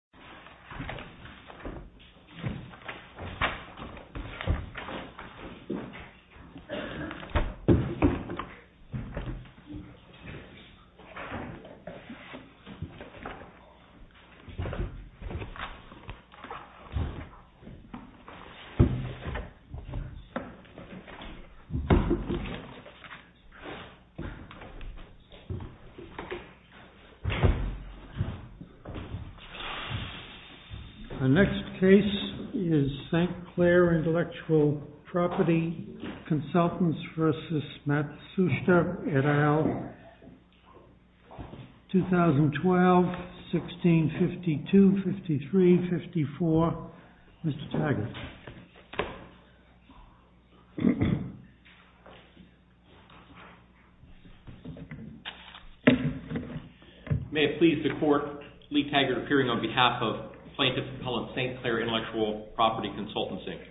CLAIR INTEL PROP v. MATSUSHITA The next case is St. Clair Intellectual Property Consultants v. Matsushita et al., 2012-16-52-53-54. Mr. Taggart. May it please the Court, Lee Taggart appearing on behalf of Plaintiff-Appellant St. Clair Intellectual Property Consultants Inc.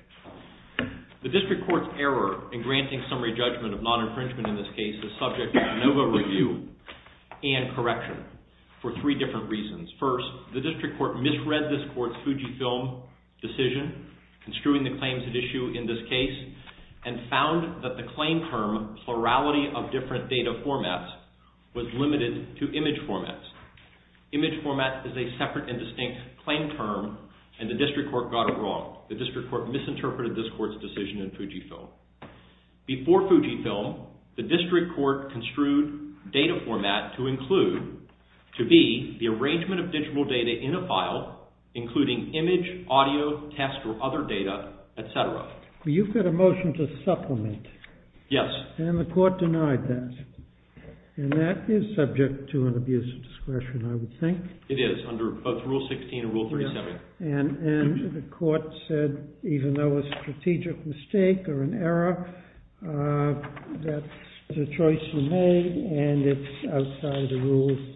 The District Court's error in granting summary judgment of non-infringement in this case is subject to a NOVA review and correction for three different reasons. First, the District Court misread this Court's FUJIFILM decision construing the claims at issue in this case and found that the claim term plurality of different data formats was limited to image formats. Image format is a separate and distinct claim term and the District Court got it wrong. The District Court misinterpreted this Court's decision in FUJIFILM. Before FUJIFILM, the District Court construed data format to include, to be, the arrangement of digital data in a file including image, audio, text, or other data, etc. You've got a motion to supplement. Yes. And the Court denied that. And that is subject to an abuse of discretion, I would think. It is, under both Rule 16 and Rule 37. And the Court said, even though it's a strategic mistake or an error, that the choice was made and it's outside the rules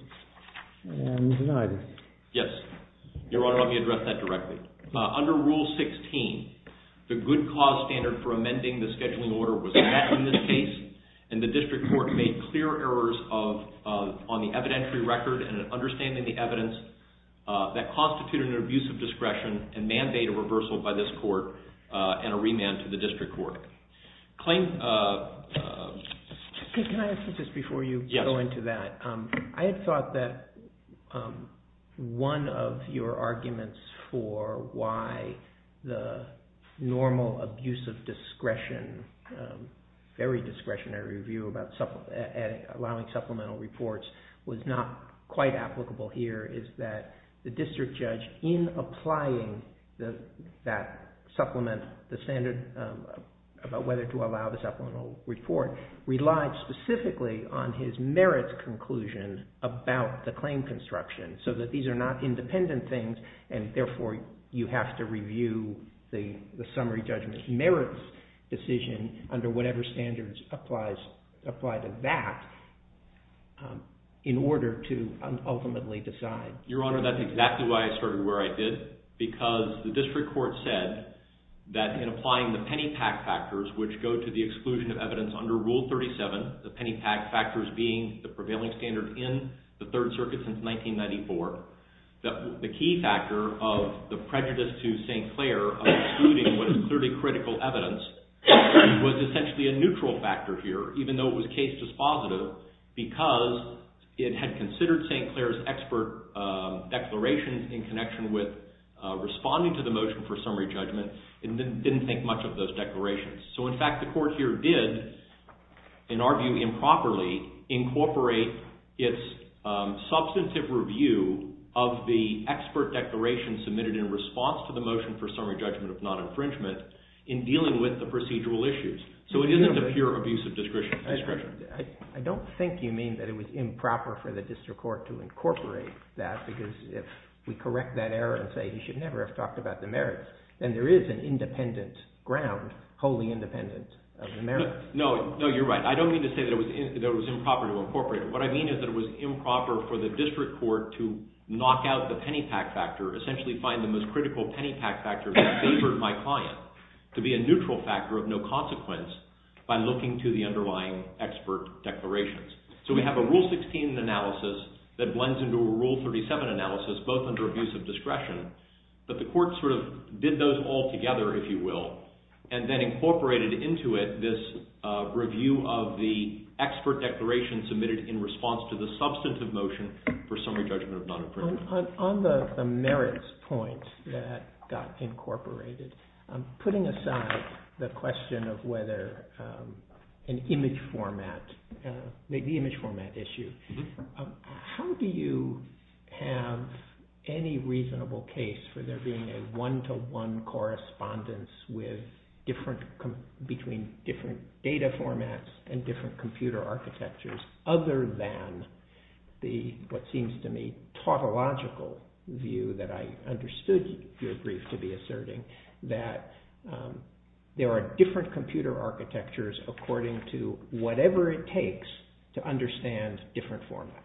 and denied it. Yes. Your Honor, let me address that directly. Under Rule 16, the good cause standard for amending the scheduling order was met in this case. And the District Court made clear errors on the evidentiary record and in understanding the evidence that constituted an abuse of discretion and mandated reversal by this Court and a remand to the District Court. Can I ask this before you go into that? I had thought that one of your arguments for why the normal abuse of discretion, very discretionary view about allowing supplemental reports, was not quite applicable here is that the District Judge, in applying that supplement, the standard about whether to allow the supplemental report, relied specifically on his merits conclusion about the claim construction. So that these are not independent things, and therefore you have to review the summary judgment's merits decision under whatever standards apply to that in order to ultimately decide. Your Honor, that's exactly why I started where I did, because the District Court said that in applying the penny-pack factors, which go to the exclusion of evidence under Rule 37, the penny-pack factors being the prevailing standard in the Third Circuit since 1994, the key factor of the prejudice to St. Clair of excluding what is clearly critical evidence was essentially a neutral factor here, even though it was case dispositive, because it had considered St. Clair's expert declaration in connection with responding to the motion for summary judgment and didn't think much of those declarations. So in fact the Court here did, in our view improperly, incorporate its substantive review of the expert declaration submitted in response to the motion for summary judgment of non-infringement in dealing with the procedural issues. So it isn't a pure abuse of discretion. I don't think you mean that it was improper for the District Court to incorporate that, because if we correct that error and say he should never have talked about the merits, then there is an independent ground wholly independent of the merits. No, you're right. I don't mean to say that it was improper to incorporate it. What I mean is that it was improper for the District Court to knock out the penny-pack factor, essentially find the most critical penny-pack factor that favored my client to be a neutral factor of no consequence by looking to the underlying expert declarations. So we have a Rule 16 analysis that blends into a Rule 37 analysis, both under abuse of discretion, but the Court sort of did those all together, if you will, and then incorporated into it this review of the expert declaration submitted in response to the substantive motion for summary judgment of non-infringement. On the merits point that got incorporated, putting aside the question of whether an image format issue, how do you have any reasonable case for there being a one-to-one correspondence between different data formats and different computer architectures, other than the, what seems to me, tautological view that I understood your brief to be asserting, that there are different computer architectures according to whatever it takes to understand different formats?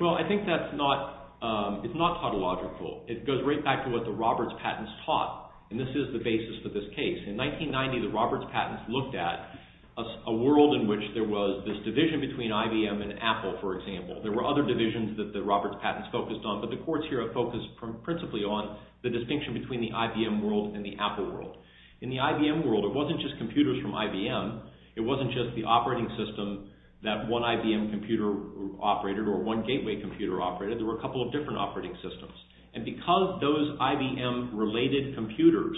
Well, I think that's not tautological. It goes right back to what the Roberts Patents taught, and this is the basis for this case. In 1990, the Roberts Patents looked at a world in which there was this division between IBM and Apple, for example. There were other divisions that the Roberts Patents focused on, but the courts here have focused principally on the distinction between the IBM world and the Apple world. In the IBM world, it wasn't just computers from IBM. It wasn't just the operating system that one IBM computer operated or one Gateway computer operated. There were a couple of different operating systems. And because those IBM-related computers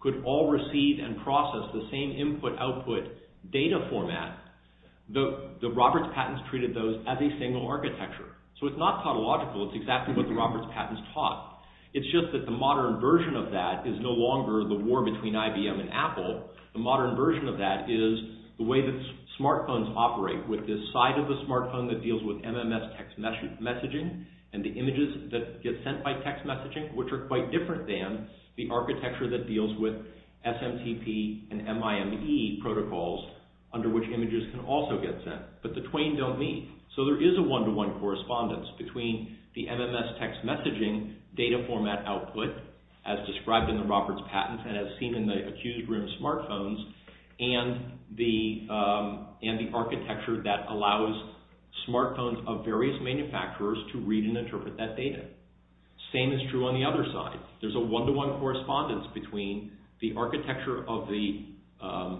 could all receive and process the same input-output data format, the Roberts Patents treated those as a single architecture. So, it's not tautological. It's exactly what the Roberts Patents taught. It's just that the modern version of that is no longer the war between IBM and Apple. The modern version of that is the way that smartphones operate, with this side of the smartphone that deals with MMS text messaging and the images that get sent by text messaging, which are quite different than the architecture that deals with SMTP and MIME protocols, under which images can also get sent. But the twain don't meet. So, there is a one-to-one correspondence between the MMS text messaging data format output, as described in the Roberts Patents and as seen in the Accused Room smartphones, and the architecture that allows smartphones of various manufacturers to read and interpret that data. Same is true on the other side. There's a one-to-one correspondence between the architecture of the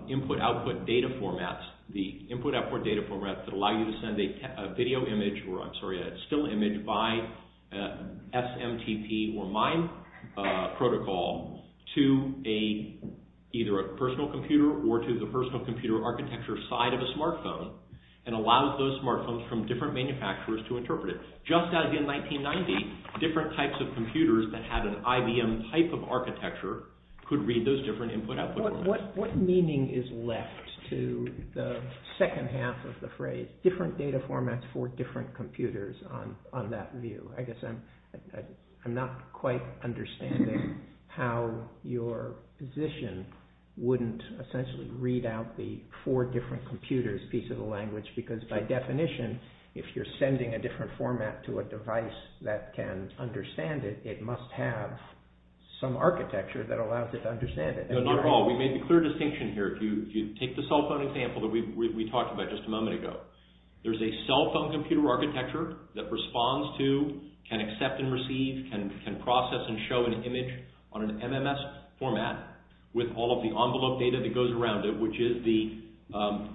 input-output data formats that allow you to send a still image by SMTP or MIME protocol to either a personal computer or to the personal computer architecture side of a smartphone, and allows those smartphones from different manufacturers to interpret it. Just as in 1990, different types of computers that had an IBM type of architecture could read those different input-output formats. What meaning is left to the second half of the phrase, different data formats for different computers, on that view? I guess I'm not quite understanding how your position wouldn't essentially read out the four different computers piece of the language, because by definition, if you're sending a different format to a device that can understand it, it must have some architecture that allows it to understand it. Not at all. We made a clear distinction here. If you take the cell phone example that we talked about just a moment ago, there's a cell phone computer architecture that responds to, can accept and receive, can process and show an image on an MMS format with all of the envelope data that goes around it, which is the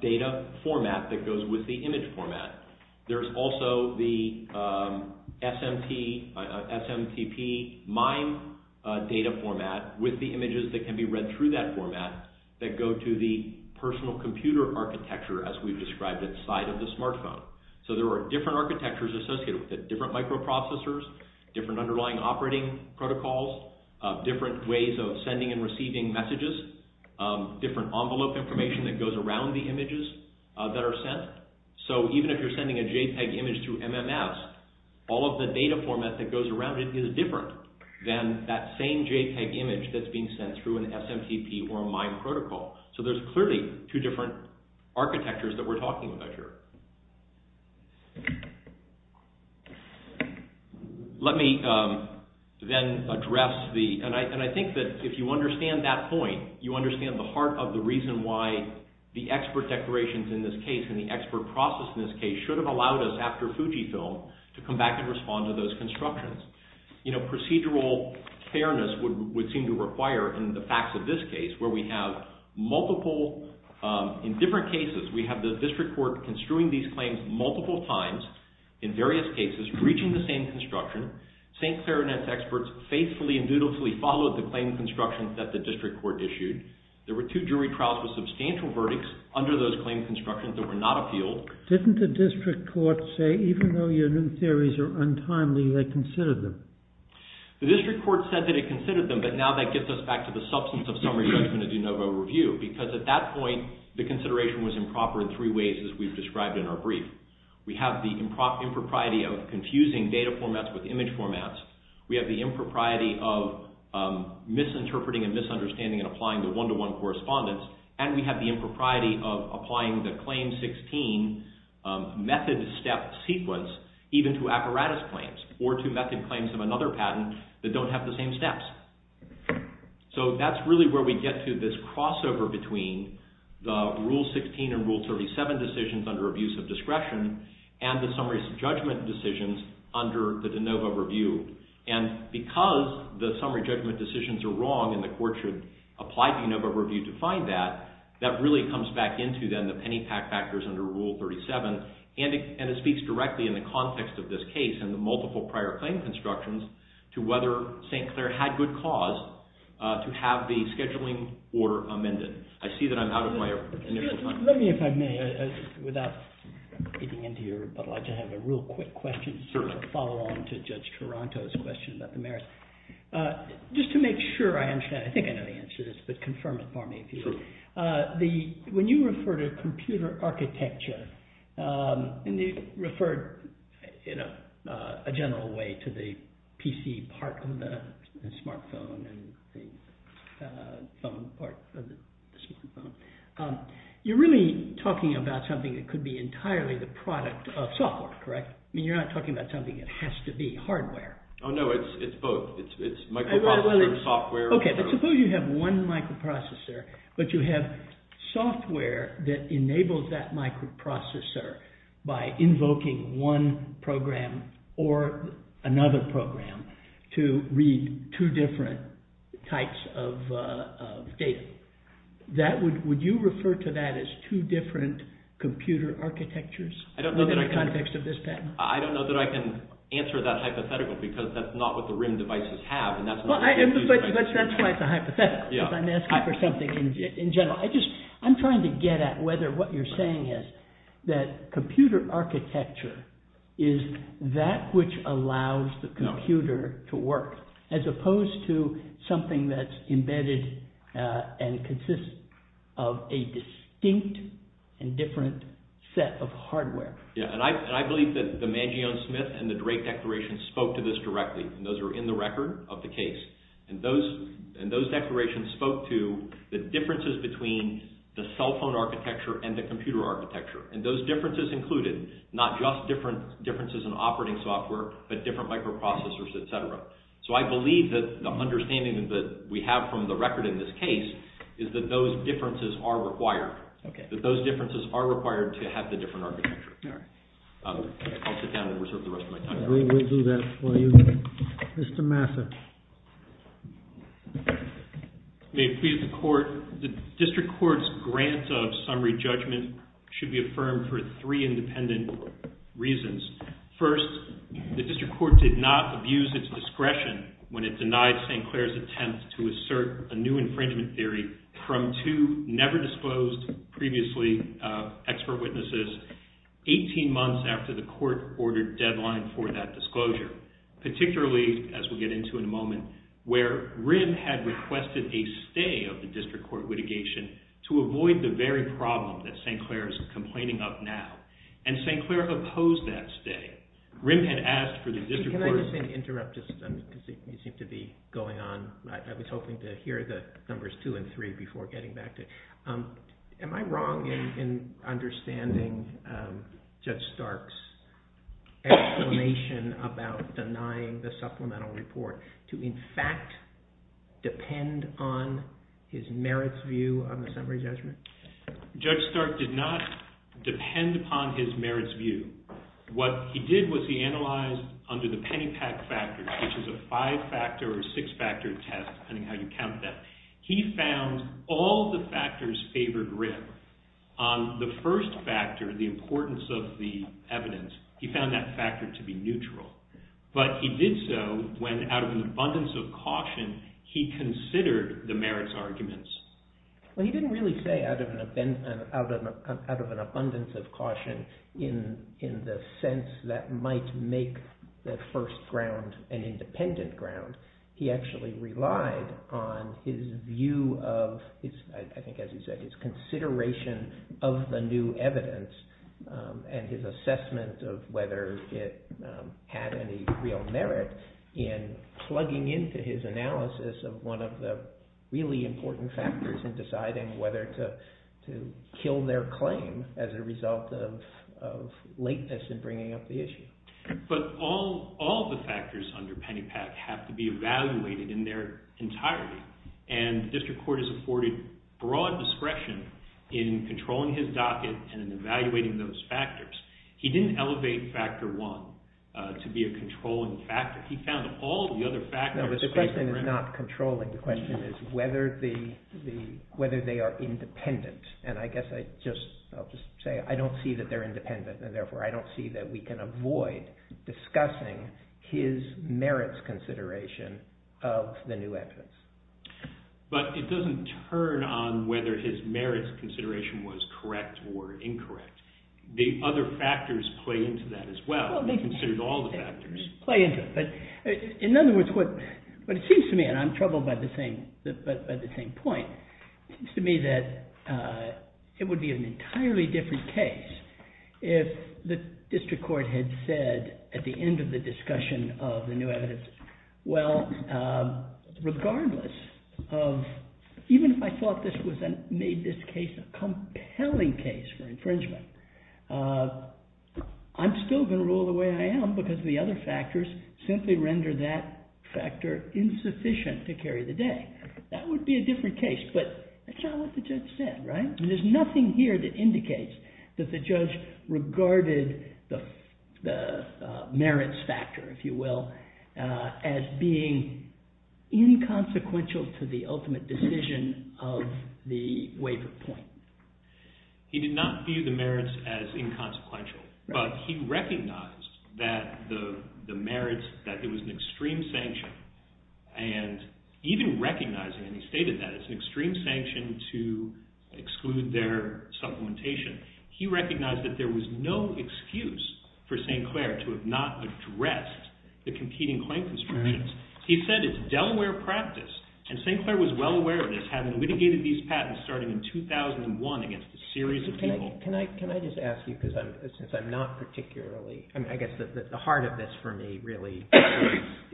data format that goes with the image format. There's also the SMTP MIME data format with the images that can be read through that format that go to the personal computer architecture, as we've described it, side of the smartphone. There are different architectures associated with it, different microprocessors, different underlying operating protocols, different ways of sending and receiving messages, different envelope information that goes around the images that are sent. So, even if you're sending a JPEG image through MMS, all of the data format that goes around it is different than that same JPEG image that's being sent through an SMTP or a MIME protocol. So, there's clearly two different architectures that we're talking about here. Let me then address the, and I think that if you understand that point, you understand the heart of the reason why the expert declarations in this case and the expert process in this case should have allowed us, after Fujifilm, to come back and respond to those constructions. Procedural fairness would seem to require, in the facts of this case, where we have multiple, in different cases, we have the district court construing these claims multiple times, in various cases, reaching the same construction. St. Clarinet's experts faithfully and dutifully followed the claim construction that the district court issued. There were two jury trials with substantial verdicts under those claim constructions that were not appealed. Didn't the district court say, even though your new theories are untimely, they considered them? The district court said that it considered them, but now that gets us back to the substance of summary judgment of de novo review, because at that point, the consideration was improper in three ways, as we've described in our brief. We have the impropriety of confusing data formats with image formats. We have the impropriety of misinterpreting and misunderstanding and applying the one-to-one correspondence, and we have the impropriety of applying the Claim 16 method step sequence, even to apparatus claims or to method claims of another patent that don't have the same steps. So that's really where we get to this crossover between the Rule 16 and Rule 37 decisions under abuse of discretion and the summary judgment decisions under the de novo review. And because the summary judgment decisions are wrong and the court should apply de novo review to find that, that really comes back into, then, the penny-pack factors under Rule 37. And it speaks directly in the context of this case and the multiple prior claim constructions to whether St. Clair had good cause to have the scheduling order amended. I see that I'm out of my initial time. Let me, if I may, without getting into your but like to have a real quick question, follow on to Judge Taranto's question about the merits. Just to make sure I understand, I think I know the answer to this, but confirm it for me. When you refer to computer architecture, and you referred in a general way to the PC part of the smartphone and the phone part of the smartphone, you're really talking about something that could be entirely the product of software, correct? I mean, you're not talking about something that has to be hardware. Oh, no, it's both. It's microprocessor and software. Okay, but suppose you have one microprocessor, but you have software that enables that microprocessor by invoking one program or another program to read two different types of data. Would you refer to that as two different computer architectures in the context of this patent? I don't know that I can answer that hypothetical because that's not what the RIM devices have. That's why it's a hypothetical because I'm asking for something in general. I'm trying to get at whether what you're saying is that computer architecture is that which allows the computer to work as opposed to something that's embedded and consists of a distinct and different set of hardware. Yeah, and I believe that the Mangione-Smith and the Drake declarations spoke to this directly, and those are in the record of the case, and those declarations spoke to the differences between the cell phone architecture and the computer architecture, and those differences included not just differences in operating software, but different microprocessors, et cetera. So, I believe that the understanding that we have from the record in this case is that those differences are required. Okay. That those differences are required to have the different architecture. All right. I'll sit down and reserve the rest of my time. We'll do that for you. Mr. Massa. May it please the Court, the district court's grant of summary judgment should be affirmed for three independent reasons. First, the district court did not abuse its discretion when it denied St. Clair's attempt to assert a new infringement theory from two never disclosed previously expert witnesses 18 months after the court ordered deadline for that disclosure. Particularly, as we'll get into in a moment, where RIM had requested a stay of the district court litigation to avoid the very problem that St. Clair is complaining of now. And St. Clair opposed that stay. RIM had asked for the district court's… Can I just interrupt? You seem to be going on. I was hoping to hear the numbers two and three before getting back to you. Am I wrong in understanding Judge Stark's explanation about denying the supplemental report to, in fact, depend on his merits view on the summary judgment? Judge Stark did not depend upon his merits view. What he did was he analyzed under the Pennypack Factor, which is a five-factor or six-factor test, depending on how you count that. He found all the factors favored RIM. On the first factor, the importance of the evidence, he found that factor to be neutral. But he did so when, out of an abundance of caution, he considered the merits arguments. Well, he didn't really say out of an abundance of caution in the sense that might make the first ground an independent ground. He actually relied on his view of, I think as you said, his consideration of the new evidence and his assessment of whether it had any real merit in plugging into his analysis of one of the really important factors in deciding whether to kill their claim as a result of lateness in bringing up the issue. But all the factors under Pennypack have to be evaluated in their entirety. And the district court has afforded broad discretion in controlling his docket and in evaluating those factors. He didn't elevate factor one to be a controlling factor. He found all the other factors favored RIM. No, but the question is not controlling. The question is whether they are independent. And I guess I'll just say I don't see that they're independent. And therefore, I don't see that we can avoid discussing his merits consideration of the new evidence. But it doesn't turn on whether his merits consideration was correct or incorrect. The other factors play into that as well. They're considered all the factors. Play into it. But in other words, what it seems to me, and I'm troubled by the same point, it seems to me that it would be an entirely different case if the district court had said at the end of the discussion of the new evidence, Well, regardless of, even if I thought this made this case a compelling case for infringement, I'm still going to rule the way I am because the other factors simply render that factor insufficient to carry the day. That would be a different case. But that's not what the judge said, right? There's nothing here that indicates that the judge regarded the merits factor, if you will, as being inconsequential to the ultimate decision of the waiver point. He did not view the merits as inconsequential. But he recognized that the merits, that it was an extreme sanction. And even recognizing, and he stated that, it's an extreme sanction to exclude their supplementation. He recognized that there was no excuse for St. Clair to have not addressed the competing claims instructions. He said it's Delaware practice. And St. Clair was well aware of this, having litigated these patents starting in 2001 against a series of people. Can I just ask you, since I'm not particularly, I guess the heart of this for me really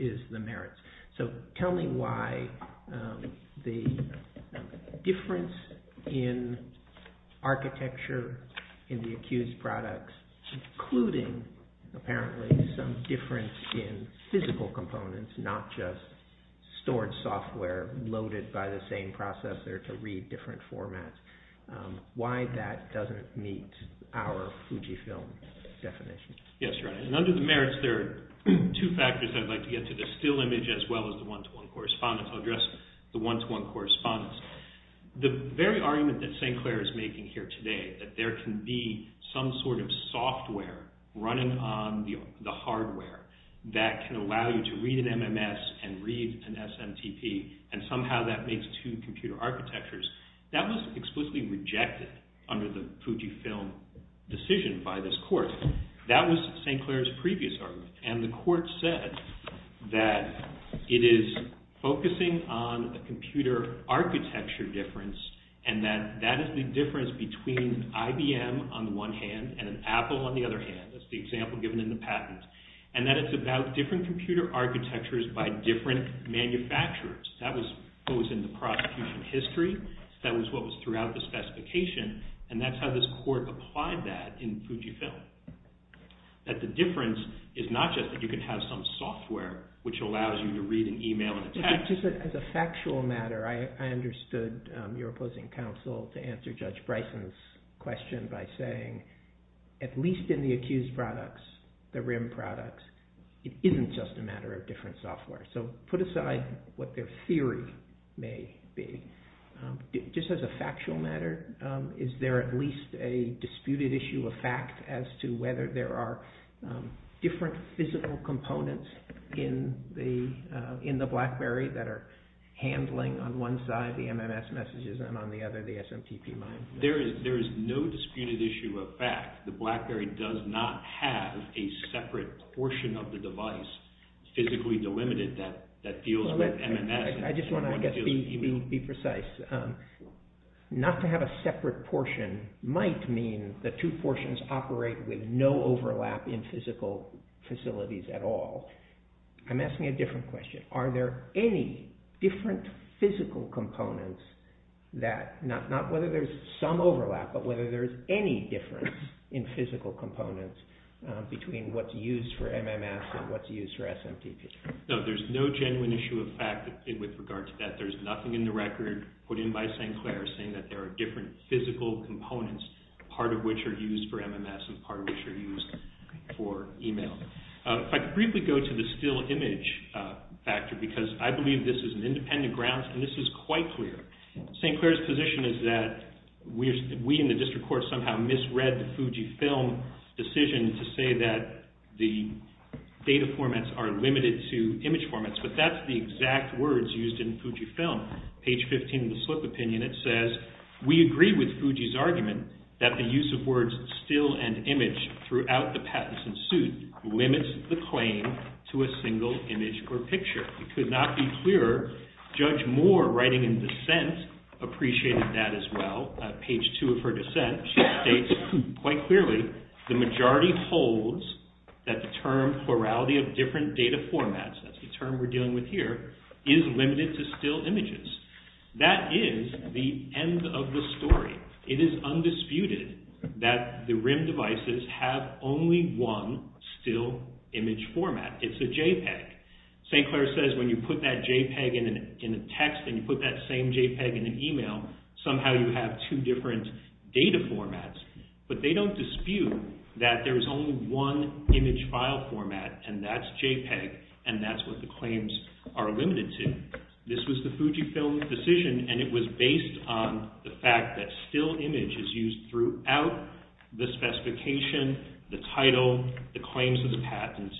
is the merits. So tell me why the difference in architecture in the accused products, including apparently some difference in physical components, not just stored software loaded by the same processor to read different formats. Why that doesn't meet our Fujifilm definition. Yes, Your Honor. And under the merits, there are two factors I'd like to get to. The still image as well as the one-to-one correspondence. I'll address the one-to-one correspondence. The very argument that St. Clair is making here today, that there can be some sort of software running on the hardware that can allow you to read an MMS and read an SMTP. And somehow that makes two computer architectures. That was explicitly rejected under the Fujifilm decision by this court. That was St. Clair's previous argument. And the court said that it is focusing on a computer architecture difference and that that is the difference between IBM on the one hand and Apple on the other hand. That's the example given in the patent. And that it's about different computer architectures by different manufacturers. That was what was in the prosecution history. That was what was throughout the specification. And that's how this court applied that in Fujifilm. That the difference is not just that you can have some software which allows you to read an email and a text. As a factual matter, I understood your opposing counsel to answer Judge Bryson's question by saying at least in the accused products, the RIM products, it isn't just a matter of different software. So put aside what their theory may be. Just as a factual matter, is there at least a disputed issue of fact as to whether there are different physical components in the BlackBerry that are handling on one side the MMS messages and on the other the SMTP mine? There is no disputed issue of fact. The BlackBerry does not have a separate portion of the device physically delimited that deals with MMS. I just want to be precise. Not to have a separate portion might mean the two portions operate with no overlap in physical facilities at all. I'm asking a different question. Are there any different physical components that, not whether there's some overlap, but whether there's any difference in physical components between what's used for MMS and what's used for SMTP? No, there's no genuine issue of fact with regard to that. There's nothing in the record put in by St. Clair saying that there are different physical components, part of which are used for MMS and part of which are used for email. If I could briefly go to the still image factor because I believe this is an independent grounds and this is quite clear. St. Clair's position is that we in the district court somehow misread the Fujifilm decision to say that the data formats are limited to image formats, but that's the exact words used in Fujifilm. Page 15 of the slip opinion, it says, we agree with Fuji's argument that the use of words still and image throughout the patents and suit limits the claim to a single image or picture. It could not be clearer. Judge Moore, writing in dissent, appreciated that as well. Page two of her dissent, she states quite clearly, the majority holds that the term plurality of different data formats, that's the term we're dealing with here, is limited to still images. That is the end of the story. It is undisputed that the RIM devices have only one still image format. It's a JPEG. St. Clair says when you put that JPEG in a text and you put that same JPEG in an email, somehow you have two different data formats. But they don't dispute that there is only one image file format and that's JPEG and that's what the claims are limited to. This was the Fujifilm decision and it was based on the fact that still image is used throughout the specification, the title, the claims of the patent,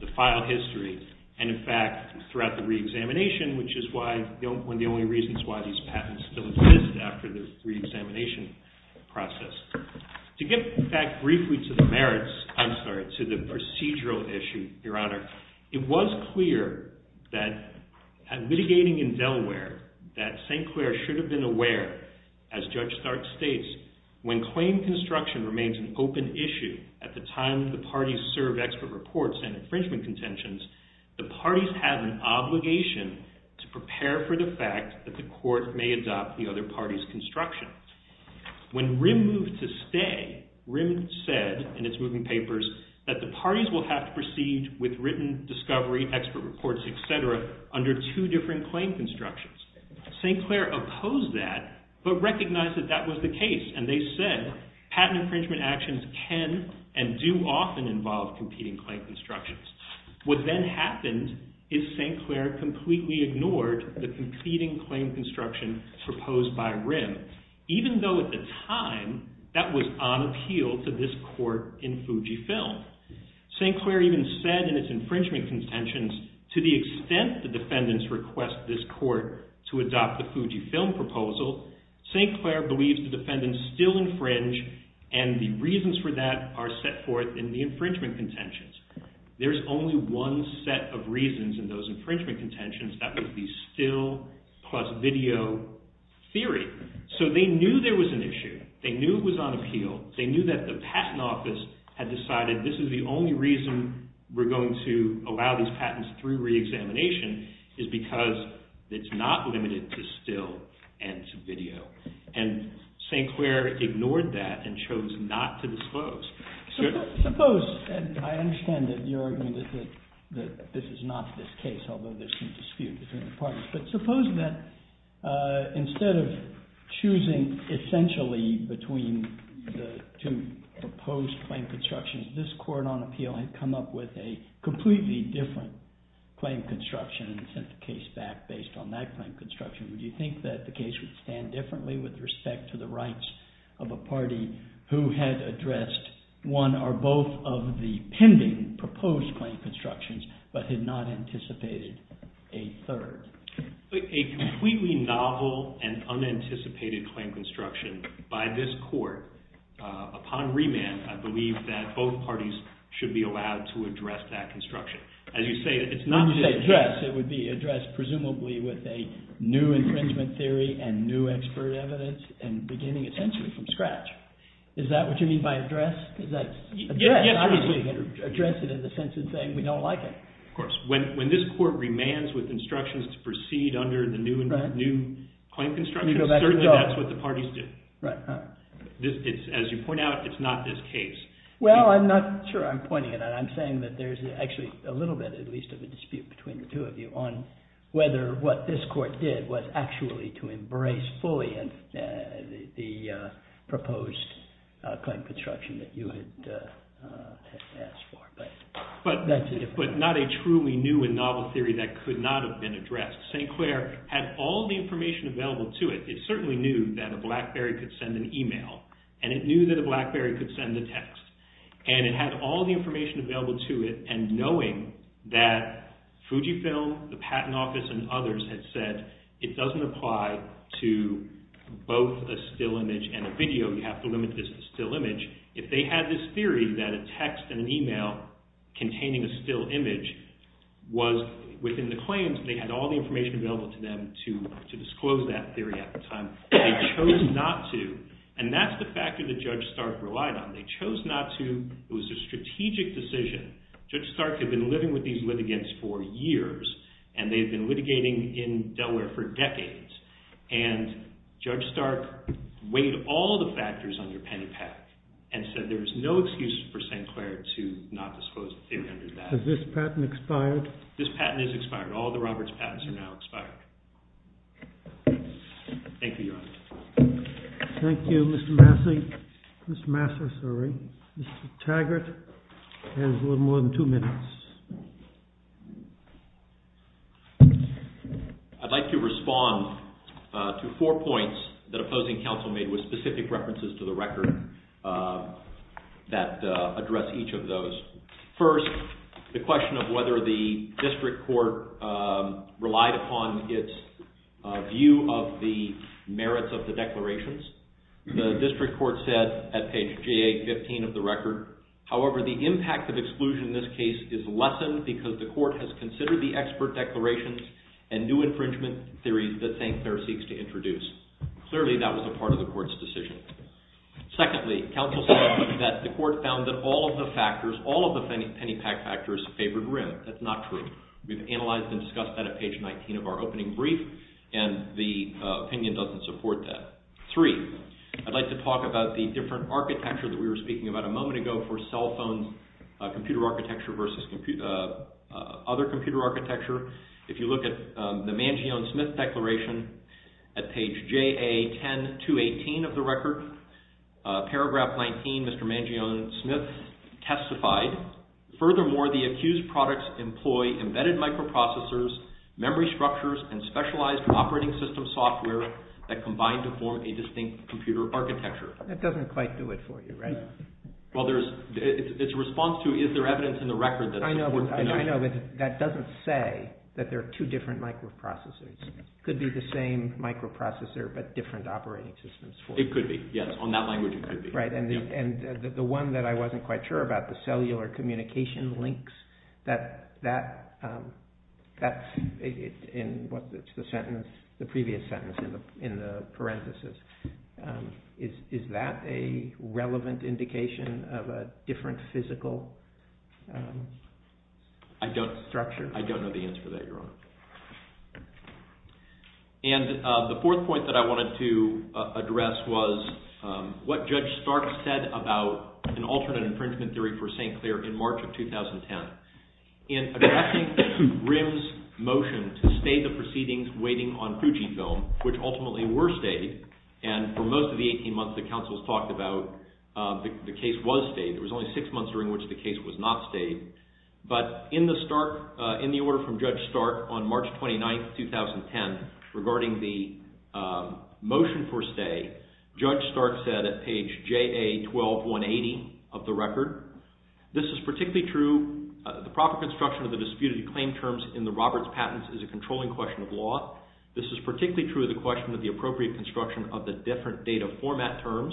the file history, and in fact throughout the re-examination, which is one of the only reasons why these patents still exist after the re-examination process. To get back briefly to the merits, I'm sorry, to the procedural issue, Your Honor, it was clear that at litigating in Delaware that St. Clair should have been aware, as Judge Stark states, when claim construction remains an open issue at the time the parties serve expert reports and infringement contentions, the parties have an obligation to prepare for the fact that the court may adopt the other party's construction. When RIM moved to stay, RIM said in its moving papers that the parties will have to proceed with written discovery, expert reports, etc. under two different claim constructions. St. Clair opposed that but recognized that that was the case and they said patent infringement actions can and do often involve competing claim constructions. What then happened is St. Clair completely ignored the competing claim construction proposed by RIM, even though at the time that was on appeal to this court in Fujifilm. St. Clair even said in its infringement contentions, to the extent the defendants request this court to adopt the Fujifilm proposal, St. Clair believes the defendants still infringe and the reasons for that are set forth in the infringement contentions. There's only one set of reasons in those infringement contentions, that would be still plus video theory. So they knew there was an issue, they knew it was on appeal, they knew that the patent office had decided this is the only reason we're going to allow these patents through reexamination is because it's not limited to still and to video. And St. Clair ignored that and chose not to disclose. Suppose, and I understand that your argument is that this is not this case, although there's some dispute between the parties. But suppose that instead of choosing essentially between the two proposed claim constructions, this court on appeal had come up with a completely different claim construction and sent the case back based on that claim construction. Would you think that the case would stand differently with respect to the rights of a party who had addressed one or both of the pending proposed claim constructions but had not anticipated a third? A completely novel and unanticipated claim construction by this court, upon remand, I believe that both parties should be allowed to address that construction. As you say, it's not to address, it would be addressed presumably with a new infringement theory and new expert evidence and beginning essentially from scratch. Is that what you mean by address? Yes. Address it in the sense of saying we don't like it. Of course. When this court remands with instructions to proceed under the new claim construction, certainly that's what the parties do. Right. As you point out, it's not this case. Well, I'm not sure I'm pointing it out. I'm saying that there's actually a little bit at least of a dispute between the two of you on whether what this court did was actually to embrace fully the proposed claim construction that you had asked for. But not a truly new and novel theory that could not have been addressed. St. Clair had all the information available to it. It certainly knew that a BlackBerry could send an email and it knew that a BlackBerry could send a text. And it had all the information available to it and knowing that Fujifilm, the patent office, and others had said it doesn't apply to both a still image and a video. You have to limit this to a still image. If they had this theory that a text and an email containing a still image was within the claims, they had all the information available to them to disclose that theory at the time. They chose not to. And that's the factor that Judge Stark relied on. They chose not to. It was a strategic decision. Judge Stark had been living with these litigants for years and they had been litigating in Delaware for decades. And Judge Stark weighed all the factors on your penny pack and said there's no excuse for St. Clair to not disclose the theory under that. Has this patent expired? This patent is expired. All the Roberts patents are now expired. Thank you, Your Honor. Thank you, Mr. Massey. Mr. Massey, sorry. Mr. Taggart has a little more than two minutes. I'd like to respond to four points that opposing counsel made with specific references to the record that address each of those. First, the question of whether the district court relied upon its view of the merits of the declarations. The district court said at page GA-15 of the record, however, the impact of exclusion in this case is lessened because the court has considered the expert declarations and new infringement theories that St. Clair seeks to introduce. Clearly, that was a part of the court's decision. Secondly, counsel said that the court found that all of the factors, all of the penny pack factors favored Wrim. That's not true. We've analyzed and discussed that at page 19 of our opening brief and the opinion doesn't support that. Three, I'd like to talk about the different architecture that we were speaking about a moment ago for cell phone computer architecture versus other computer architecture. If you look at the Mangione-Smith declaration at page JA-10-218 of the record, paragraph 19, Mr. Mangione-Smith testified, furthermore, the accused products employ embedded microprocessors, memory structures, and specialized operating system software that combine to form a distinct computer architecture. That doesn't quite do it for you, right? Well, it's a response to is there evidence in the record that supports the notion. I know, but that doesn't say that there are two different microprocessors. It could be the same microprocessor but different operating systems. It could be, yes. On that language, it could be. Right, and the one that I wasn't quite sure about, the cellular communication links, that's in the previous sentence in the parentheses. Is that a relevant indication of a different physical structure? I don't know the answer to that, Your Honor. And the fourth point that I wanted to address was what Judge Stark said about an alternate infringement theory for St. Clair in March of 2010. In addressing Grimm's motion to stay the proceedings waiting on Fujifilm, which ultimately were stayed, and for most of the 18 months the counsels talked about the case was stayed. It was only six months during which the case was not stayed. But in the order from Judge Stark on March 29, 2010, regarding the motion for stay, Judge Stark said at page JA-12-180 of the record, this is particularly true, the proper construction of the disputed claim terms in the Roberts patents is a controlling question of law. This is particularly true of the question of the appropriate construction of the different data format terms.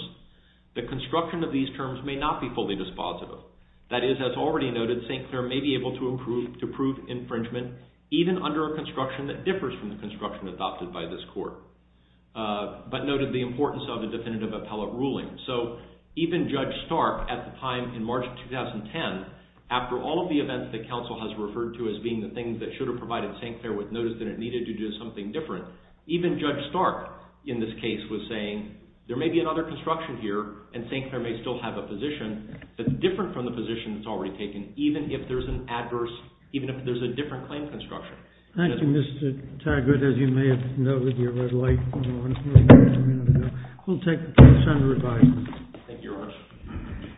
The construction of these terms may not be fully dispositive. That is, as already noted, St. Clair may be able to prove infringement even under a construction that differs from the construction adopted by this court. But noted the importance of the definitive appellate ruling. So even Judge Stark at the time in March of 2010, after all of the events that counsel has referred to as being the things that should have provided St. Clair with notice that it needed to do something different, even Judge Stark in this case was saying there may be another construction here and St. Clair may still have a position that's different from the position that's already taken, even if there's an adverse, even if there's a different claim construction. Thank you, Mr. Taggart, as you may have noted with your red light. We'll take the case under review. Thank you, Your Honor.